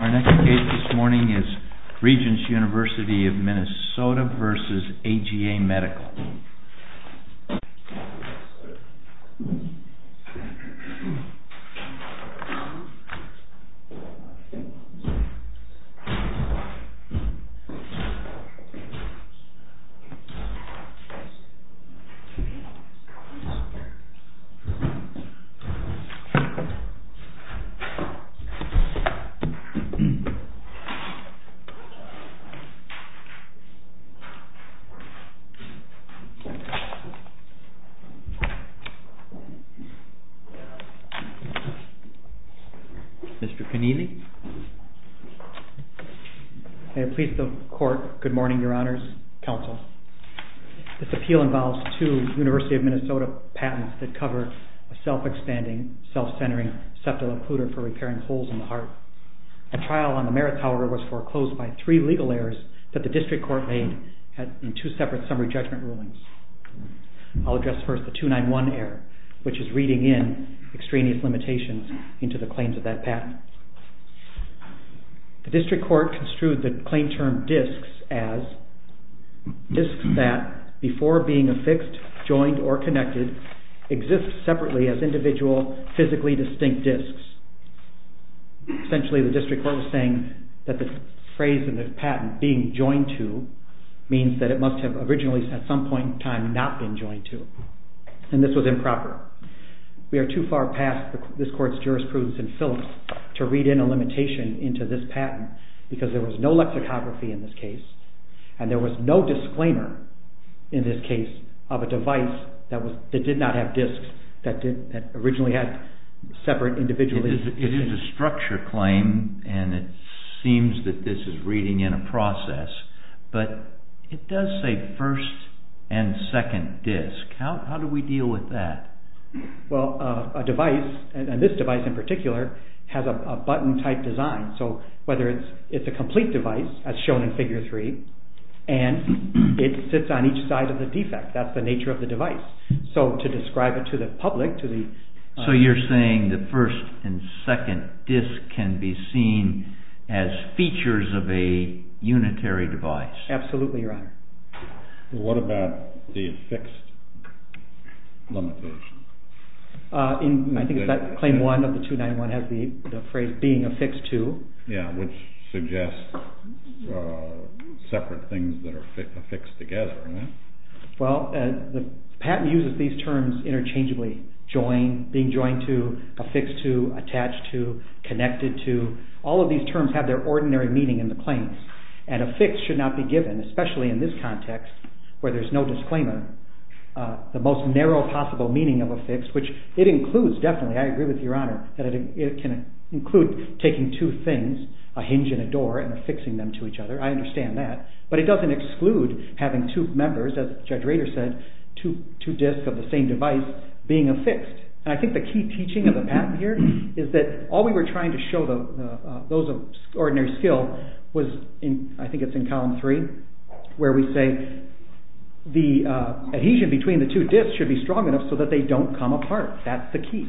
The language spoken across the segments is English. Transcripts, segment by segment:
Our next case this morning is REGENTS UNIVERSITY of MINN v. AGA MEDICAL Mr. Connealy? May it please the court, good morning your honors, counsel. This appeal involves two University of Minnesota patents that cover a self-expanding, self-centering septal occluder for repairing holes in the heart. The trial on the Merritt Tower was foreclosed by three legal errors that the district court made in two separate summary judgment rulings. I'll address first the 291 error, which is reading in extraneous limitations into the claims of that patent. The district court construed the claim term DISCS as DISCS that before being affixed, joined, or connected, exists separately as individual, physically distinct DISCS. Essentially the district court was saying that the phrase in the patent being joined to means that it must have originally at some point in time not been joined to and this was improper. We are too far past this court's jurisprudence in Phillips to read in a limitation into this patent because there was no lexicography in this case and there was no disclaimer in this case of a device that did not have DISCS that originally had separate individual... It is a structure claim and it seems that this is reading in a process, but it does say first and second DISCS. How do we deal with that? Well, a device, and this device in particular, has a button type design, so whether it's a complete device as shown in figure three, and it sits on each side of the defect. That's the nature of the patent. The first and second DISCS can be seen as features of a unitary device. Absolutely your honor. What about the affixed limitation? I think that claim one of the 291 has the phrase being affixed to. Yeah, which suggests separate things that are affixed together. Well, the patent uses these terms interchangeably. Joined, being joined to, affixed to, attached to, connected to. All of these terms have their ordinary meaning in the claims and affixed should not be given, especially in this context where there's no disclaimer. The most narrow possible meaning of affixed, which it includes definitely, I agree with your honor, that it can include taking two things, a hinge and a door, and affixing them to each other. I understand that, but it doesn't exclude having two members, as Judge Rader said, two DISCS of the same device being affixed. I think the key teaching of the patent here is that all we were trying to show those of ordinary skill was in, I think it's in column three, where we say the adhesion between the two DISCS should be strong enough so that they don't come apart. That's the key.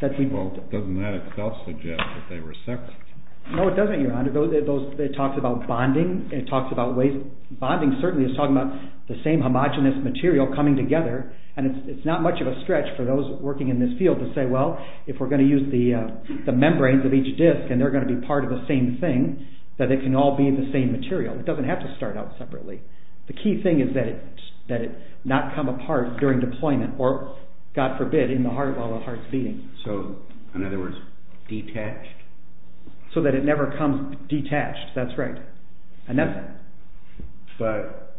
Doesn't that itself suggest that they were separate? No, it doesn't, your honor. It talks about bonding, it talks about ways, bonding certainly is talking about the same homogenous material coming together, and it's not much of a stretch for those working in this field to say, well, if we're going to use the membranes of each DISC and they're going to be part of the same thing, that they can all be the same material. It doesn't have to start out separately. The key thing is that it not come apart during deployment or, God forbid, in the heart while the heart's beating. So, in other words, detached? So that it never comes detached, that's right. But,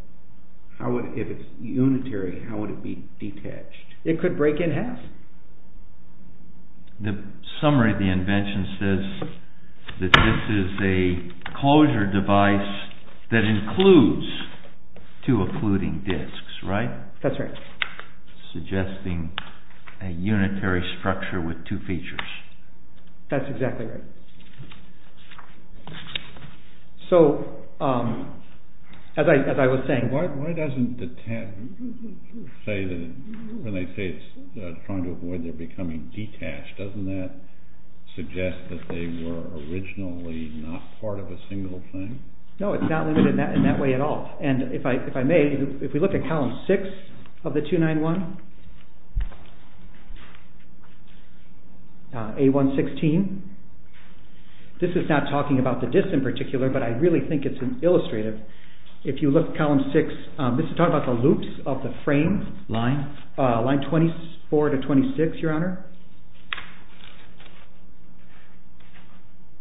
if it's unitary, how would it be detached? It could break in half. The summary of the invention says that this is a closure device that includes two occluding structures with two features. That's exactly right. So, as I was saying... Why doesn't the tab say that, when they say it's trying to avoid them becoming detached, doesn't that suggest that they were originally not part of a single thing? No, it's not limited in that way at all. And, if I may, if we look at column 6 of the 291, A116, this is not talking about the DISC in particular, but I really think it's illustrative. If you look at column 6, this is talking about the loops of the frame, line 24 to 26, Your Honor.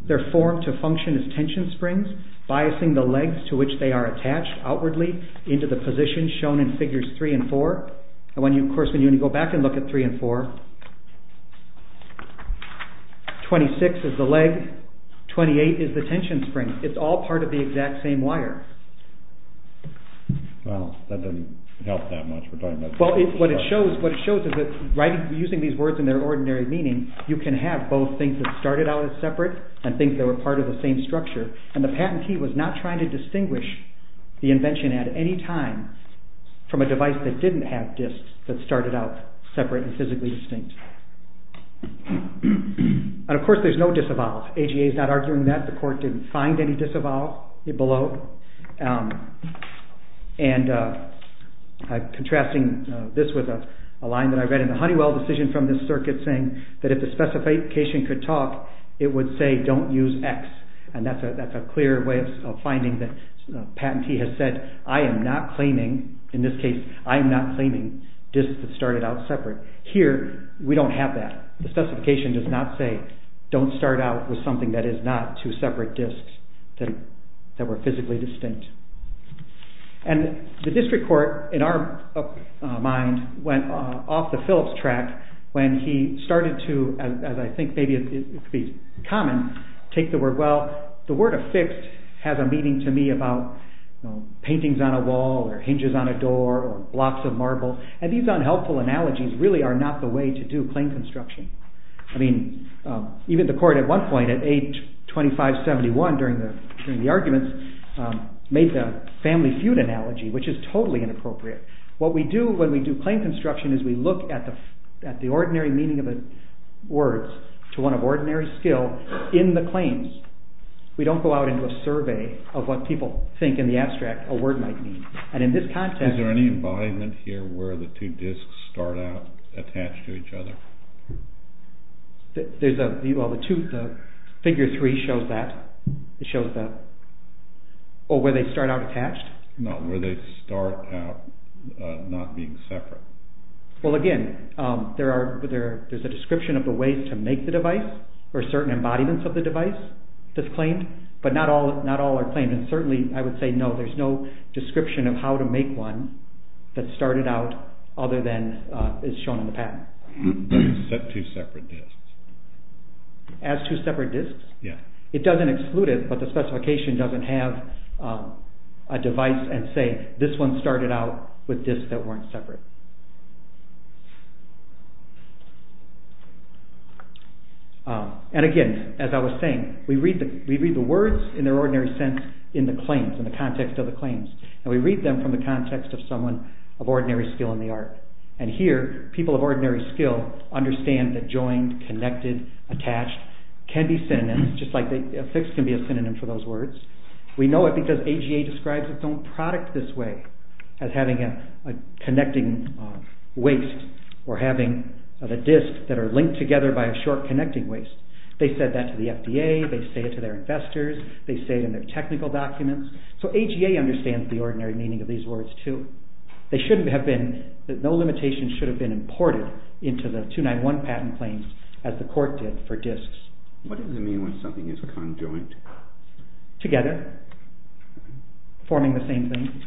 They're formed to function as tension springs, biasing the legs to which they are attached outwardly into the position shown in figures 3 and 4. And, of course, when you go back and look at 3 and 4, 26 is the leg, 28 is the tension spring. It's all part of the exact same wire. Well, that doesn't help that much. What it shows is that, using these words in their ordinary meaning, you can have both things that started out as separate and things that were part of the same structure. And the patentee was not trying to distinguish the invention at any time from a device that didn't have DISCs that started out separate and physically distinct. And, of course, there's no disavowals. AGA is not arguing that. The court didn't find any disavowals below. Contrasting this with a line that I read in the Honeywell decision from this circuit saying that if the specification could talk, it would say, don't use X. And that's a clear way of finding that a patentee has said, I am not claiming, in this case, I am not claiming DISCs that started out separate. Here, we don't have that. The specification does not say, don't start out with something that is not two separate DISCs that were physically distinct. And the district court, in our mind, went off the Phillips track when he started to, as I think maybe it could be common, take the word, well, the word affixed has a meaning to me about paintings on a wall or hinges on a door or blocks of marble. And these unhelpful analogies really are not the way to do claim construction. I mean, even the court at one point, at age 25-71 during the arguments, made the family feud analogy, which is totally inappropriate. What we do when we do claim construction is we look at the ordinary meaning of the words to one of ordinary skill in the claims. We don't go out into a survey of what people think in the abstract a word might mean. And in this context... Is there any embodiment here where the two DISCs start out attached to each other? There's a, well, the two, the figure three shows that. It shows the, oh, where they start out attached? No, where they start out not being separate. Well, again, there are, there's a description of the ways to make the device or certain embodiments of the device that's claimed, but not all are claimed. And certainly I would say no, there's no description of how to make one that started out other than is shown in the patent. They're set to separate DISCs. As two separate DISCs? Yeah. It doesn't exclude it, but the specification doesn't have a device and say this one started out with DISCs that weren't separate. And again, as I was saying, we read the words in their ordinary sense in the claims, in the context of the claims. And we read them from the context of someone of ordinary skill in the art. Attached, can be synonyms, just like a fix can be a synonym for those words. We know it because AGA describes its own product this way, as having a connecting waste or having a DISC that are linked together by a short connecting waste. They said that to the FDA, they say it to their investors, they say it in their technical documents. So AGA understands the ordinary meaning of these words too. They shouldn't have been, no limitation should have been imported into the 291 patent claims as the court did for DISCs. What does it mean when something is conjoined? Together, forming the same thing.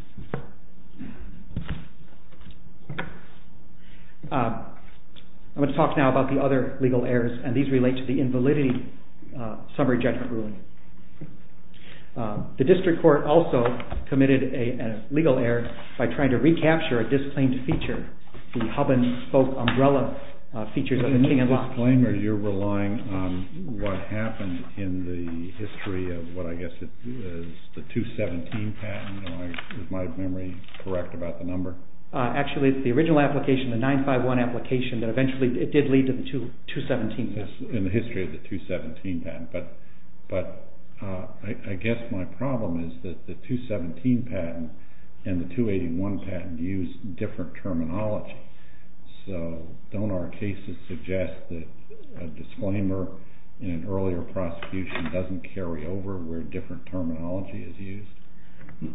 I'm going to talk now about the other legal errors and these relate to the invalidity summary judgment ruling. The district court also committed a legal error by trying to recapture a DISC claimed feature. The hub and spoke umbrella features of the meeting and lock. Are you relying on what happened in the history of what I guess is the 217 patent? Is my memory correct about the number? Actually, it's the original application, the 951 application, but eventually it did lead to the 217 patent. In the history of the 217 patent. But I guess my problem is that the 217 patent and the 281 patent use different terminology. So don't our cases suggest that a disclaimer in an earlier prosecution doesn't carry over where different terminology is used?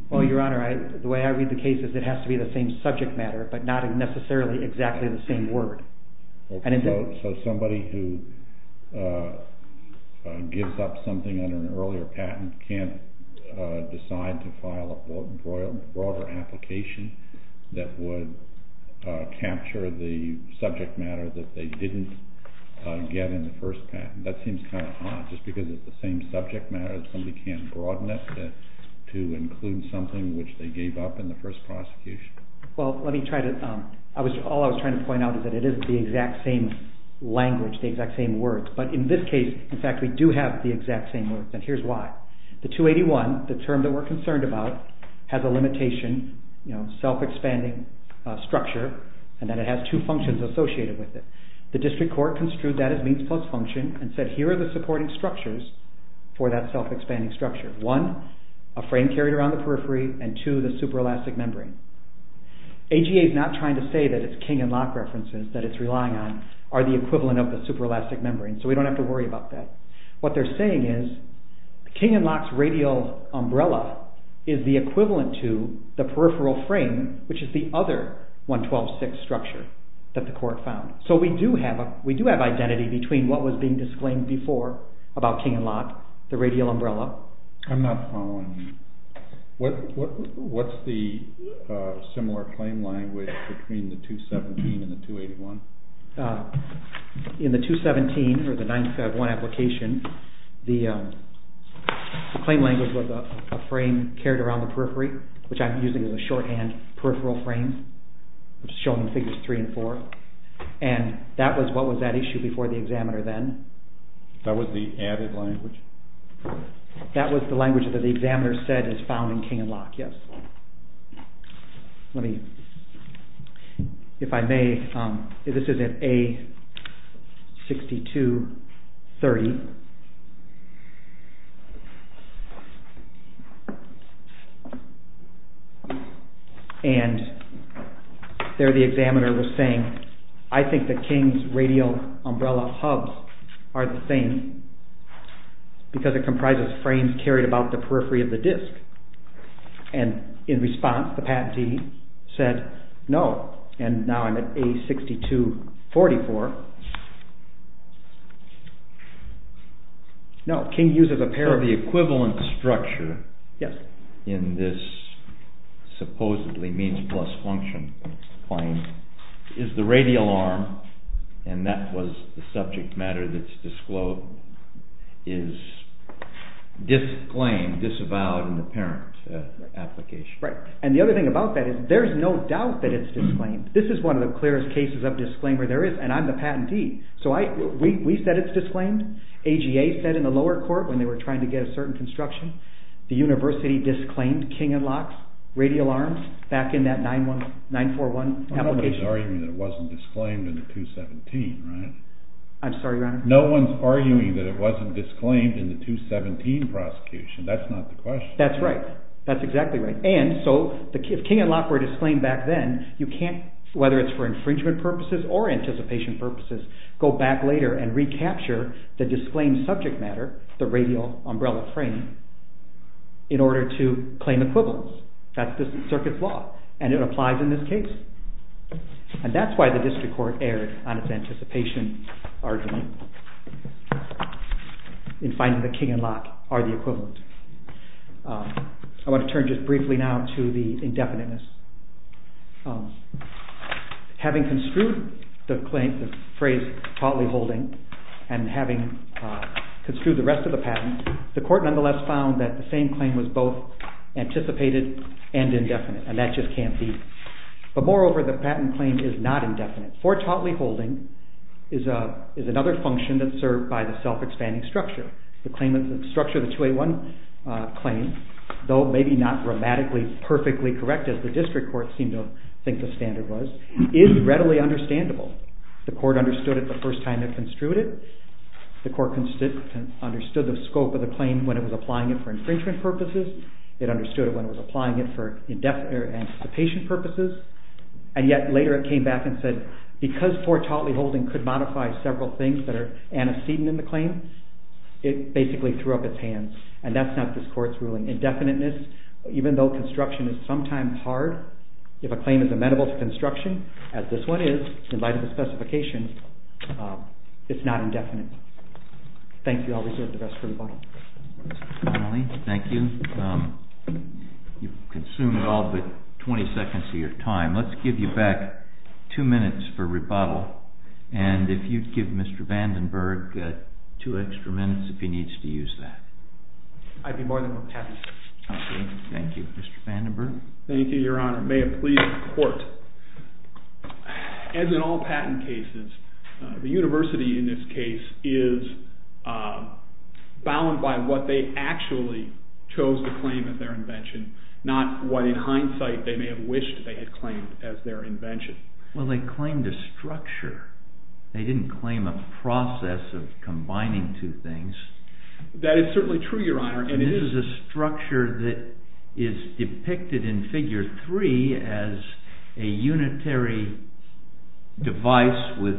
Well, Your Honor, the way I read the case is it has to be the same subject matter, but not necessarily exactly the same word. So somebody who gives up something on an earlier patent can't decide to file a broader application? That would capture the subject matter that they didn't get in the first patent? That seems kind of odd. Just because it's the same subject matter, somebody can't broaden it to include something which they gave up in the first prosecution? Well, let me try to... All I was trying to point out is that it isn't the exact same language, the exact same words. But in this case, in fact, we do have the exact same words. And here's why. The 281, the term that we're concerned about, has a limitation, you know, self-expanding structure, and then it has two functions associated with it. The district court construed that as means plus function and said here are the supporting structures for that self-expanding structure. One, a frame carried around the periphery, and two, the super-elastic membrane. AGA is not trying to say that it's King and Locke references that it's relying on are the equivalent of the super-elastic membrane, so we don't have to worry about that. What they're saying is King and Locke's radial umbrella is the equivalent to the peripheral frame, which is the other 112-6 structure that the court found. So we do have identity between what was being disclaimed before about King and Locke, the radial umbrella. I'm not following you. What's the similar claim language between the 217 and the 281? In the 217, or the 951 application, the claim language was a frame carried around the periphery, which I'm using as a shorthand peripheral frame, which is shown in Figures 3 and 4, and that was what was at issue before the examiner then. That was the added language? That was the language that the examiner said is found in King and Locke, yes. Let me... If I may, this is at A6230. And there the examiner was saying, I think that King's radial umbrella hubs are the same because it comprises frames carried about the periphery of the disc. And in response, the patentee said, no, and now I'm at A6244. No, King uses a pair of... So the equivalent structure in this supposedly means-plus-function claim is the radial arm, and that was the subject matter that is disclaimed, disavowed in the parent application. Right. And the other thing about that is, there's no doubt that it's disclaimed. This is one of the clearest cases of disclaimer there is, and I'm the patentee. So we said it's disclaimed. AGA said in the lower court, when they were trying to get a certain construction, the university disclaimed King and Locke's radial arms back in that 941 application. Well, nobody's arguing that it wasn't disclaimed in the 217, right? I'm sorry, Your Honor? No one's arguing that it wasn't disclaimed in the 217 prosecution. That's not the question. That's right. That's exactly right. And so, if King and Locke were disclaimed back then, you can't, whether it's for infringement purposes or anticipation purposes, go back later and recapture the disclaimed subject matter, the radial umbrella frame, in order to claim equivalence. That's the circuit's law, and it applies in this case. And that's why the district court erred on its anticipation argument in finding that King and Locke are the equivalent. I want to turn just briefly now to the indefiniteness. Having construed the claim, the phrase, potly holding, and having construed the rest of the patent, the court nonetheless found that the same claim was both anticipated and indefinite, and that just can't be. But moreover, the patent claim is not indefinite. Fortotly holding is another function that's served by the self-expanding structure. The structure of the 281 claim, though maybe not grammatically perfectly correct, as the district court seemed to think the standard was, is readily understandable. The court understood it the first time it construed it. The court understood the scope of the claim when it was applying it for infringement purposes. It understood it when it was applying it for anticipation purposes. And yet later it came back and said, because fortotly holding could modify several things that are antecedent in the claim, it basically threw up its hands. And that's not this court's ruling. Indefiniteness, even though construction is sometimes hard, if a claim is amenable to construction, as this one is, in light of the specifications, it's not indefinite. Thank you. I'll reserve the rest for you. Finally, thank you. You've consumed all but 20 seconds of your time. Let's give you back two minutes for rebuttal. And if you'd give Mr. Vandenberg two extra minutes if he needs to use that. I'd be more than happy to. Okay. Thank you. Mr. Vandenberg? Thank you, Your Honor. May it please the Court. As in all patent cases, the university in this case is bound by what they actually chose to claim as their invention, not what in hindsight they may have wished they had claimed as their invention. Well, they claimed a structure. They didn't claim a process of combining two things. That is certainly true, Your Honor. And this is a structure that is depicted in Figure 3 as a unitary device with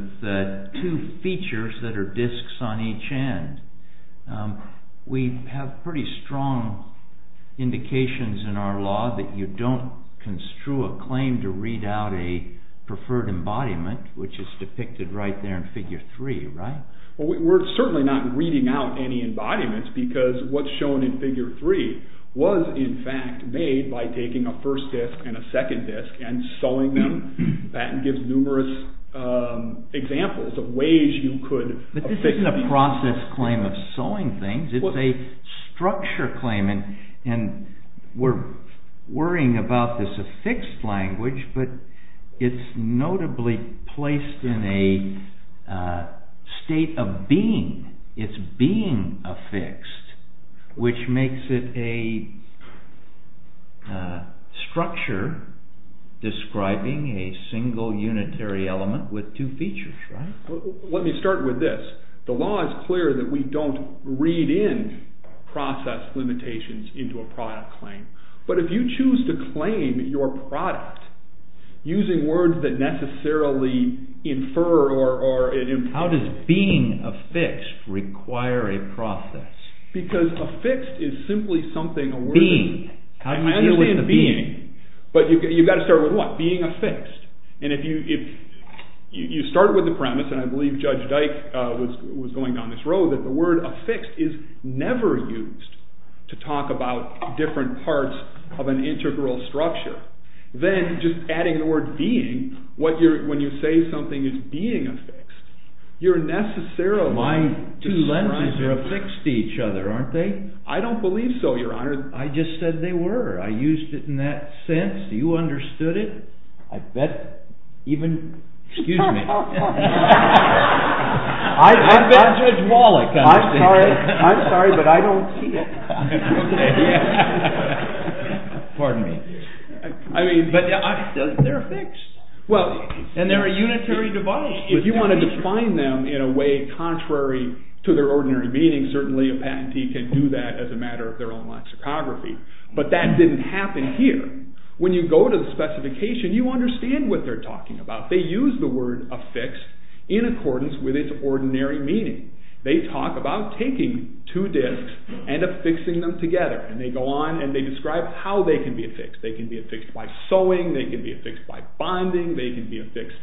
two features that are disks on each end. We have pretty strong indications in our law that you don't construe a claim to read out a preferred embodiment, which is depicted right there in Figure 3, right? We're certainly not reading out any embodiments because what's shown in Figure 3 was, in fact, made by taking a first disk and a second disk and sewing them. The patent gives numerous examples of ways you could... But this isn't a process claim of sewing things. It's a structure claim. And we're worrying about this affixed language, but it's notably placed in a state of being. It's being affixed, which makes it a structure describing a single unitary element with two features, right? Let me start with this. The law is clear that we don't read in process limitations into a product claim. But if you choose to claim your product using words that necessarily infer or... How does being affixed require a process? Because affixed is simply something... Being. How do you deal with the being? I understand being, but you've got to start with what? Being affixed. And if you start with the premise, and I believe Judge Dyke was going down this road, that the word affixed is never used to talk about different parts of an integral structure, then just adding the word being, when you say something is being affixed, you're necessarily describing... My two lenses are affixed to each other, aren't they? I don't believe so, Your Honor. I just said they were. I used it in that sense. Do you understand it? I bet even... Excuse me. I bet Judge Wallach understands it. I'm sorry, but I don't see it. Pardon me. But they're affixed. And they're a unitary device. If you want to define them in a way contrary to their ordinary meaning, certainly a patentee can do that as a matter of their own lexicography. But that didn't happen here. When you go to the specification, you understand what they're talking about. They use the word affixed in accordance with its ordinary meaning. They talk about taking two discs and affixing them together. And they go on and they describe how they can be affixed. They can be affixed by sewing, they can be affixed by bonding, they can be affixed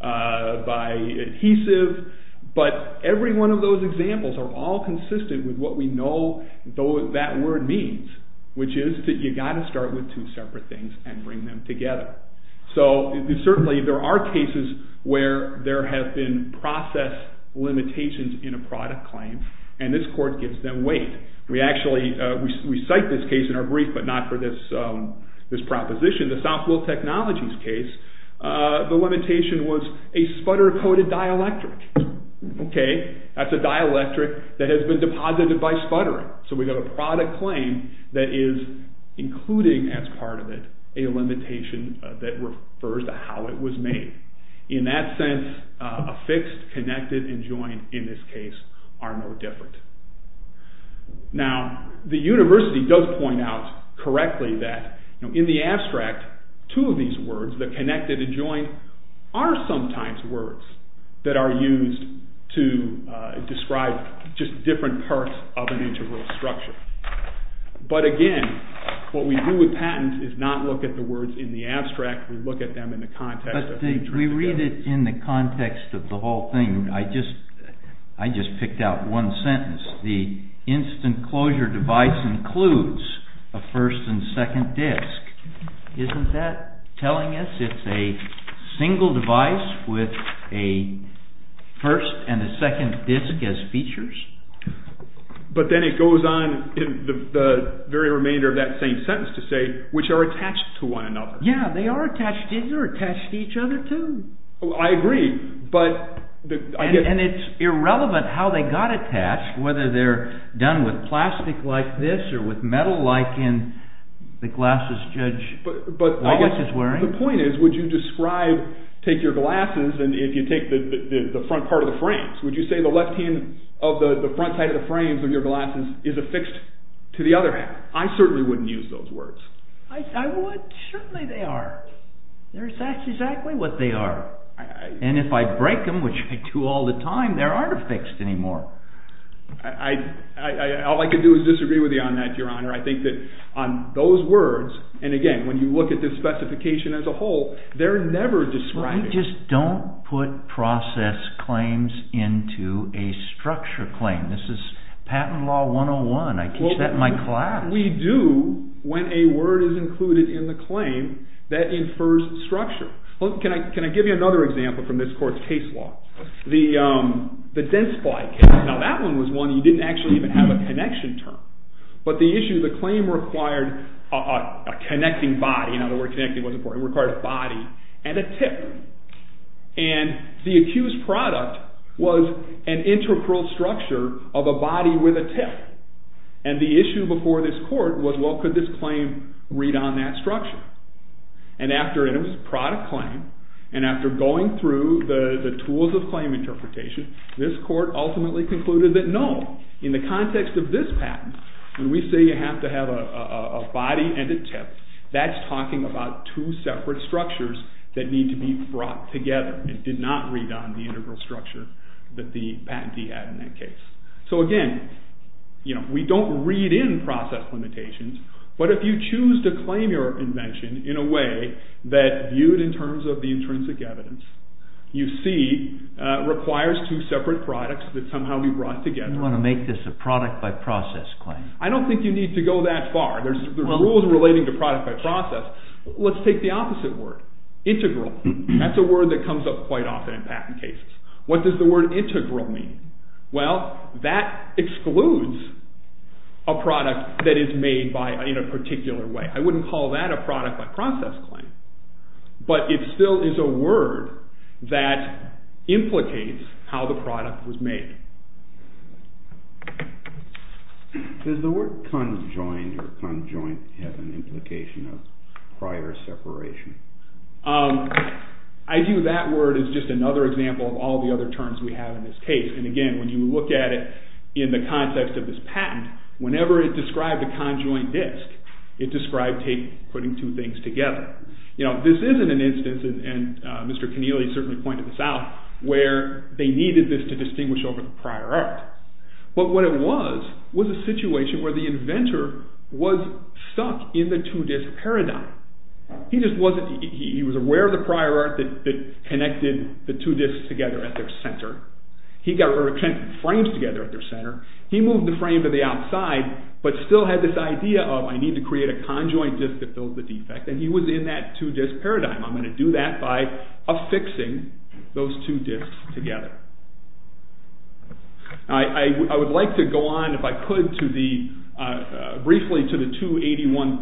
by adhesive. But every one of those examples are all consistent with what we know that word means, which is that you've got to start with two separate things and bring them together. So certainly there are cases where there have been process limitations in a product claim, and this court gives them weight. We cite this case in our brief, but not for this proposition. The Southwell Technologies case, the limitation was a sputter-coated dielectric. That's a dielectric that has been deposited by sputtering. So we have a product claim that is, including as part of it, a limitation that refers to how it was made. In that sense, affixed, connected, and joined in this case are no different. Now, the university does point out correctly that in the abstract, two of these words, the connected and joined, are sometimes words that are used to describe just different parts of an integral structure. But again, what we do with patents is not look at the words in the abstract, we look at them in the context that they turn together. But we read it in the context of the whole thing. I just picked out one sentence. The instant closure device includes a first and second disc. Isn't that telling us it's a single device with a first and a second disc as features? But then it goes on in the very remainder of that same sentence to say, which are attached to one another. Yeah, they are attached to each other too. I agree. And it's irrelevant how they got attached, whether they're done with plastic like this or with metal like in the glasses Judge Wallace is wearing. The point is, would you describe take your glasses and if you take the front part of the frames, would you say the left hand of the front side of the frames of your glasses is affixed to the other hand? I certainly wouldn't use those words. Certainly they are. That's exactly what they are. And if I break them, which I do all the time, they aren't affixed anymore. All I can do is disagree with you on that, Your Honor. I think that on those words, and again, when you look at this specification as a whole, they're never described. You just don't put process claims into a structure claim. This is patent law 101. I teach that in my class. We do when a word is included in the claim that infers structure. Can I give you another example from this court's case law? The dents fly case. Now that one was one you didn't actually even have a connection term. But the issue, the claim required a connecting body. In other words, connecting was important. It required a body and a tip. And the accused product was an integral structure of a body with a tip. And the issue before this court was, well, could this claim read on that structure? And after it was a product claim, and after going through the tools of claim interpretation, this court ultimately concluded that no. In the context of this patent, when we say you have to have a patent, that's talking about two separate structures that need to be brought together. It did not read on the integral structure that the patentee had in that case. So again, we don't read in process limitations. But if you choose to claim your invention in a way that viewed in terms of the intrinsic evidence, you see it requires two separate products that somehow we brought together. You want to make this a product by process claim? I don't think you need to go that far. There's rules relating to product by process. Let's take the opposite word. Integral. That's a word that comes up quite often in patent cases. What does the word integral mean? Well, that excludes a product that is made in a particular way. I wouldn't call that a product by process claim. But it still is a word that implicates how the product was made. Does the word conjoined or conjoined have an implication of prior separation? I view that word as just another example of all the other terms we have in this case. And again, when you look at it in the context of this patent, whenever it described a conjoined disc, it described putting two things together. and Mr. Connealy certainly pointed this out, where they needed this to distinguish over the prior art. But what it was, was a situation where the inventor was stuck in the two-disc paradigm. He was aware of the prior art that connected the two discs together at their center. He got her to connect frames together at their center. He moved the frame to the outside but still had this idea of I need to create a conjoined disc to fill the defect. And he was in that two-disc paradigm. I'm going to do that by affixing those two discs together. I would like to go on if I could briefly to the 281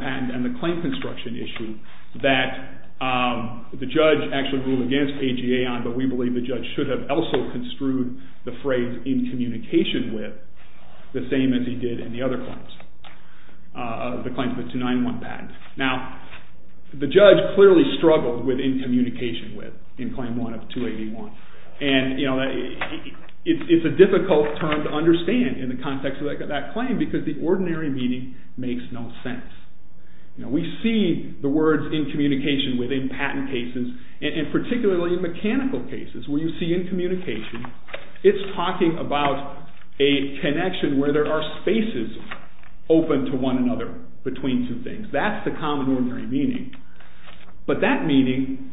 patent and the claim construction issue that the judge actually ruled against AGA on, but we believe the judge should have also construed the phrase in communication with the same as he did in the other claims. The claims of the 291 patent. Now, the judge clearly struggled with in communication with, in claim 1 of 281. And, you know, it's a difficult term to understand in the context of that claim because the ordinary meaning makes no sense. We see the words in communication within patent cases and particularly in mechanical cases where you see in communication it's talking about a connection where there are spaces open to one another between two things. That's the common ordinary meaning. But that meaning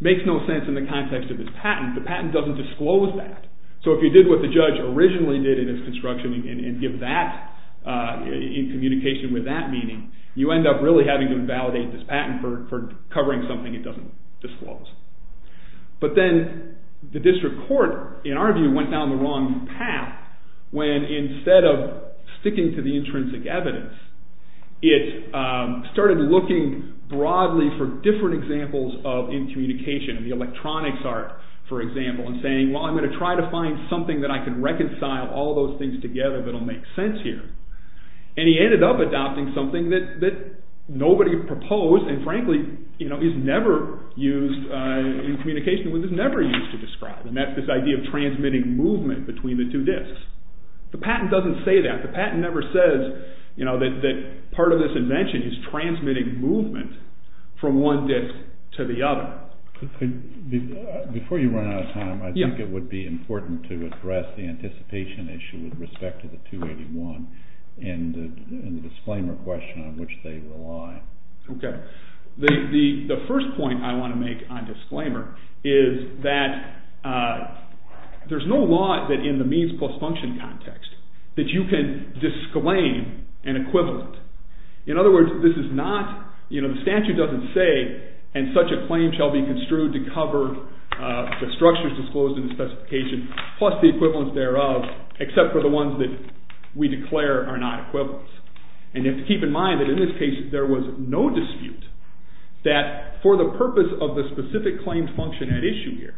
makes no sense in the context of this patent. The patent doesn't disclose that. So if you did what the judge originally did in its construction and give that in communication with that meaning, you end up really having to invalidate this patent for covering something it doesn't disclose. But then the district court, in our view, went down the wrong path when instead of sticking to the intrinsic evidence, it started looking broadly for different examples of in communication. The electronics art, for example, and saying, well, I'm going to try to find something that I can reconcile all those things together that will make sense here. And he ended up adopting something that nobody proposed and frankly, you know, is never used in communication with, is never used to describe. And that's this idea of transmitting movement between the two disks. The patent doesn't say that. The patent never says, you know, that part of this invention is transmitting movement from one disk to the other. Before you run out of time, I think it would be important to address the anticipation issue with respect to the 281 and the disclaimer question on which they rely. The first point I want to make on disclaimer is that there's no law that in the means plus function context that you can disclaim an equivalent. In other words, this is not, you know, the statute doesn't say and such a claim shall be construed to cover the structures disclosed in the specification plus the equivalents thereof except for the ones that we declare are not equivalents. And you have to keep in mind that in this case there was no dispute that for the purpose of the specific claim function at issue here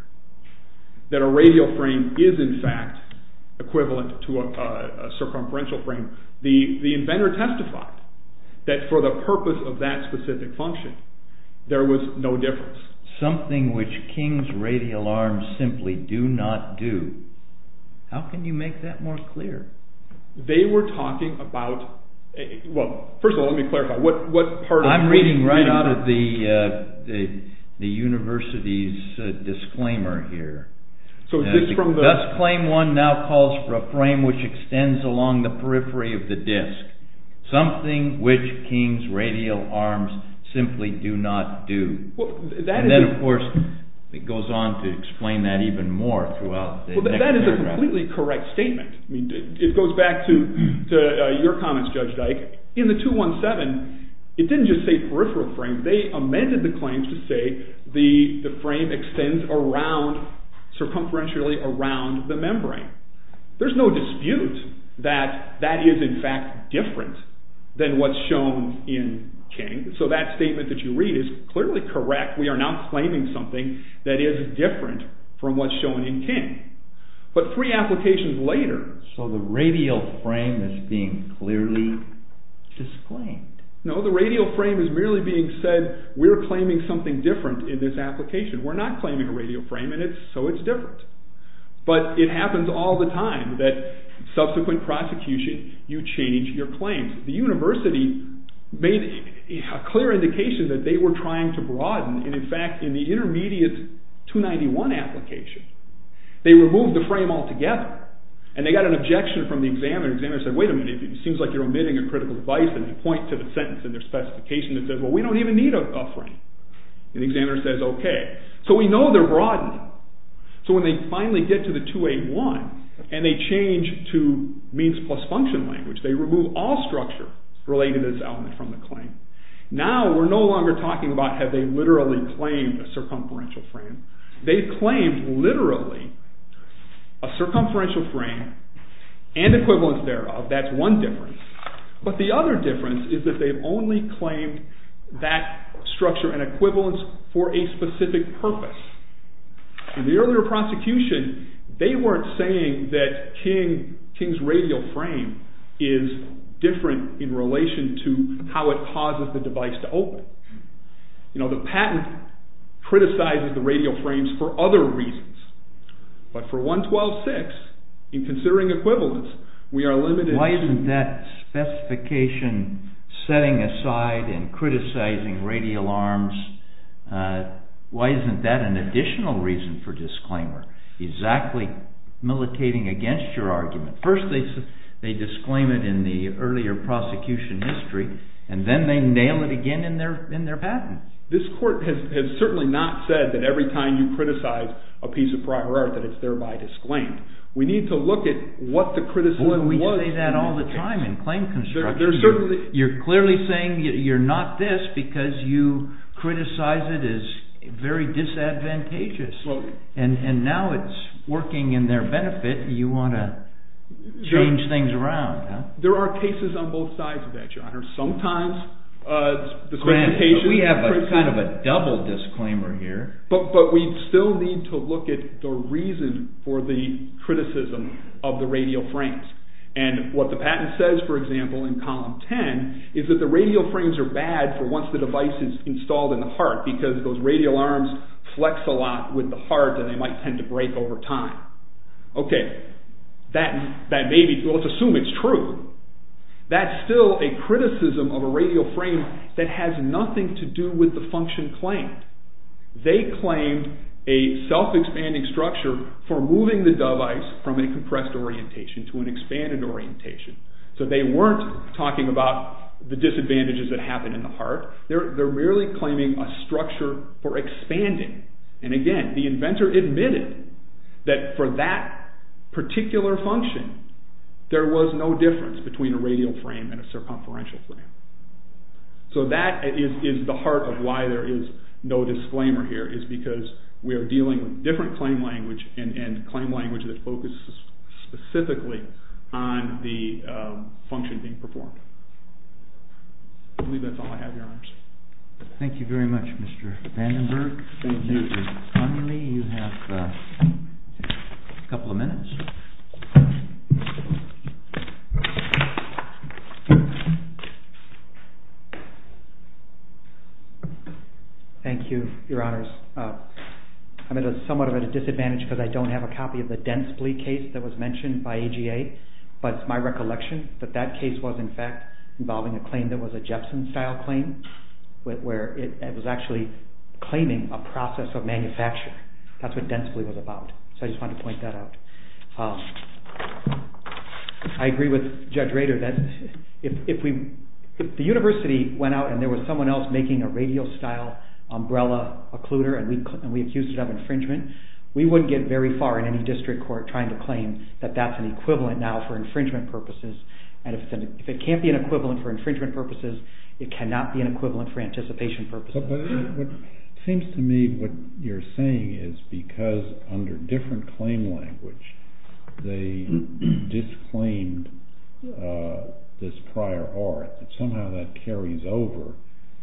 that a radial frame is in fact equivalent to a circumferential frame the inventor testified that for the purpose of that specific function there was no difference. Something which King's radial arms simply do not do. How can you make that more clear? They were talking about well, first of all let me clarify what part of... I'm reading right out of the university's disclaimer here. The disclaim one now calls for a frame which extends along the periphery of the disc. Something which King's radial arms simply do not do. And then of course it goes on to explain that even more throughout the next paragraph. Well, that is a completely correct statement. It goes back to your comments, Judge Dyke. In the 217, it didn't just say peripheral frame. They amended the claims to say the frame extends circumferentially around the membrane. There's no dispute that that is in fact different than what's shown in King. So that statement that you read is clearly correct. We are now claiming something that is different from what's shown in King. But three applications later... clearly disclaimed. No, the radial frame is merely being said we're claiming something different in this application. We're not claiming a radial frame, and so it's different. But it happens all the time that subsequent prosecution, you change your claims. The university made a clear indication that they were trying to broaden, and in fact in the intermediate 291 application, they removed the frame altogether. And they got an objection from the examiner. The examiner said, wait a minute, it seems like you're omitting a critical device. And they point to the sentence in their specification that says, well, we don't even need a frame. And the examiner says, okay. So we know they're broadening. So when they finally get to the 281, and they change to means plus function language, they remove all structure related to this element from the claim. Now we're no longer talking about have they literally claimed a circumferential frame. They've claimed literally a circumferential frame and equivalents thereof. That's one difference. But the other difference is that they've only claimed that structure and equivalents for a specific purpose. In the earlier prosecution, they weren't saying that King's radial frame is different in relation to how it causes the device to open. The patent criticizes the radial frames for other reasons. But for 112.6, in considering equivalents, we are limited to... Setting aside and criticizing radial arms. Why isn't that an additional reason for disclaimer? Exactly. Militating against your argument. First, they disclaim it in the earlier prosecution history, and then they nail it again in their patent. This court has certainly not said that every time you criticize a piece of prior art that it's thereby disclaimed. We need to look at what the criticism was... But we say that all the time in claim construction. You're clearly saying you're not this because you criticize it as very disadvantageous. And now it's working in their benefit. You want to change things around. There are cases on both sides of that, your honor. Sometimes... Grant, we have kind of a double disclaimer here. But we still need to look at the reason for the criticism of the radial frames. And what the patent says, for example, in column 10, is that the radial frames are bad for once the device is installed in the heart, because those radial arms flex a lot with the heart and they might tend to break over time. Okay. Let's assume it's true. That's still a criticism of a radial frame that has nothing to do with the function claimed. They claimed a self-expanding structure for moving the device from a compressed orientation to an expanded orientation. So they weren't talking about the disadvantages that happen in the heart. They're merely claiming a structure for expanding. And again, the inventor admitted that for that particular function there was no difference between a radial frame and a circumferential frame. So that is the heart of why there is no disclaimer here, is because we are dealing with different claim language and claim language that focuses specifically on the function being performed. I believe that's all I have, Your Honors. Thank you very much, Mr. Vandenberg. Thank you. You have a couple of minutes. Thank you. Thank you, Your Honors. I'm somewhat at a disadvantage because I don't have a copy of the Denspley case that was mentioned by AGA, but it's my recollection that that case was in fact involving a claim that was a Jepson-style claim where it was actually claiming a process of manufacturing. That's what Denspley was about. So I just wanted to point that out. I agree with Judge Rader that if the University went out and there was someone else making a radial style umbrella occluder and we accused it of infringement, we wouldn't get very far in any district court trying to claim that that's an equivalent now for infringement purposes. If it can't be an equivalent for infringement purposes, it cannot be an equivalent for anticipation purposes. It seems to me what you're saying is because under different claim language they disclaimed this prior art, that somehow that carries over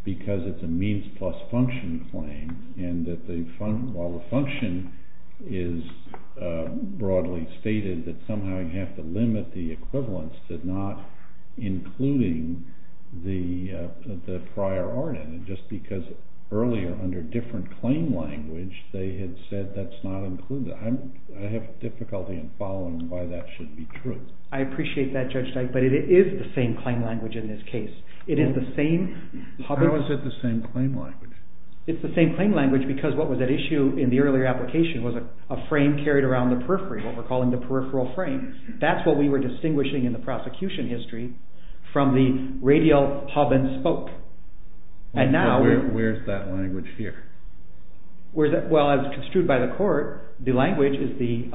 because it's a means plus function claim and that while the function is broadly stated that somehow you have to limit the equivalence to not including the prior art in it, just because earlier under different claim language they had said that's not included. I have difficulty in following why that should be true. I appreciate that Judge Dyke, but it is the same claim language in this case. How is it the same claim language? It's the same claim language because what was at issue in the earlier application was a frame carried around the periphery, what we're calling the peripheral frame. That's what we were distinguishing in the prosecution history from the radial hub and spoke. Where's that language here? As construed by the court, the language is in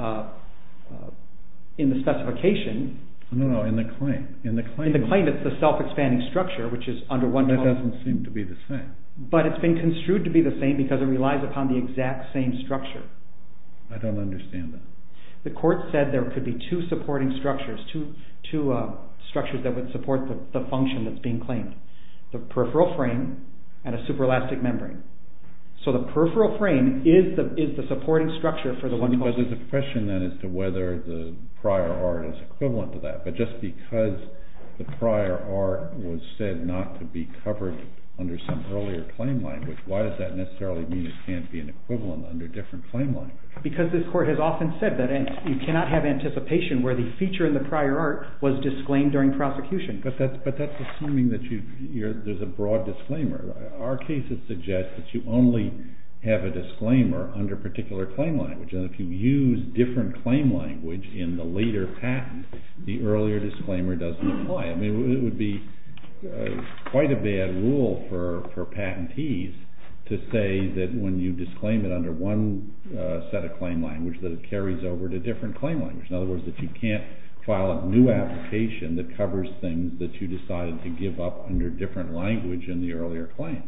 the specification No, no, in the claim. In the claim it's the self-expanding structure which is under one total. That doesn't seem to be the same. But it's been construed to be the same because it relies upon the exact same structure. I don't understand that. The court said there could be two supporting structures, two structures that would support the function that's being claimed. The peripheral frame and a super-elastic membrane. So the peripheral frame is the supporting structure for the one total. There's a question then as to whether the prior art is equivalent to that, but just because the prior art was said not to be covered under some earlier claim language, why does that necessarily mean it can't be an equivalent under different claim language? Because this court has often said that you cannot have anticipation where the feature in the prior art was disclaimed during prosecution. But that's assuming that there's a broad disclaimer. Our cases suggest that you only have a disclaimer under particular claim language. If you use different claim language in the later patent, the earlier disclaimer doesn't apply. It would be quite a bad rule for patentees to say that when you disclaim it under one set of claim language, that it carries over to different claim language. In other words, that you can't file a new application that covers things that you decided to give up under different language in the earlier claim.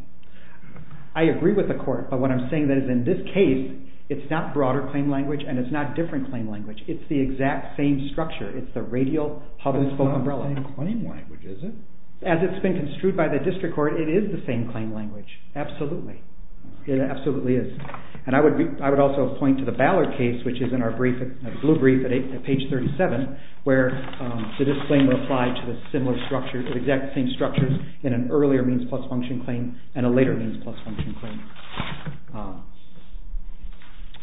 I agree with the court, but what I'm saying is that in this case, it's not broader claim language and it's not different claim language. It's the exact same structure. It's the radial public spoke umbrella. As it's been construed by the district court, it is the same claim language. Absolutely. It absolutely is. And I would also point to the Ballard case, which is in our blue brief at page 37, where the disclaimer applied to the exact same structures in an earlier means plus function claim and a later means plus function claim.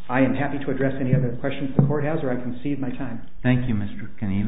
I am happy to address any other questions the court has, or I concede my time. Thank you, Mr. Canino.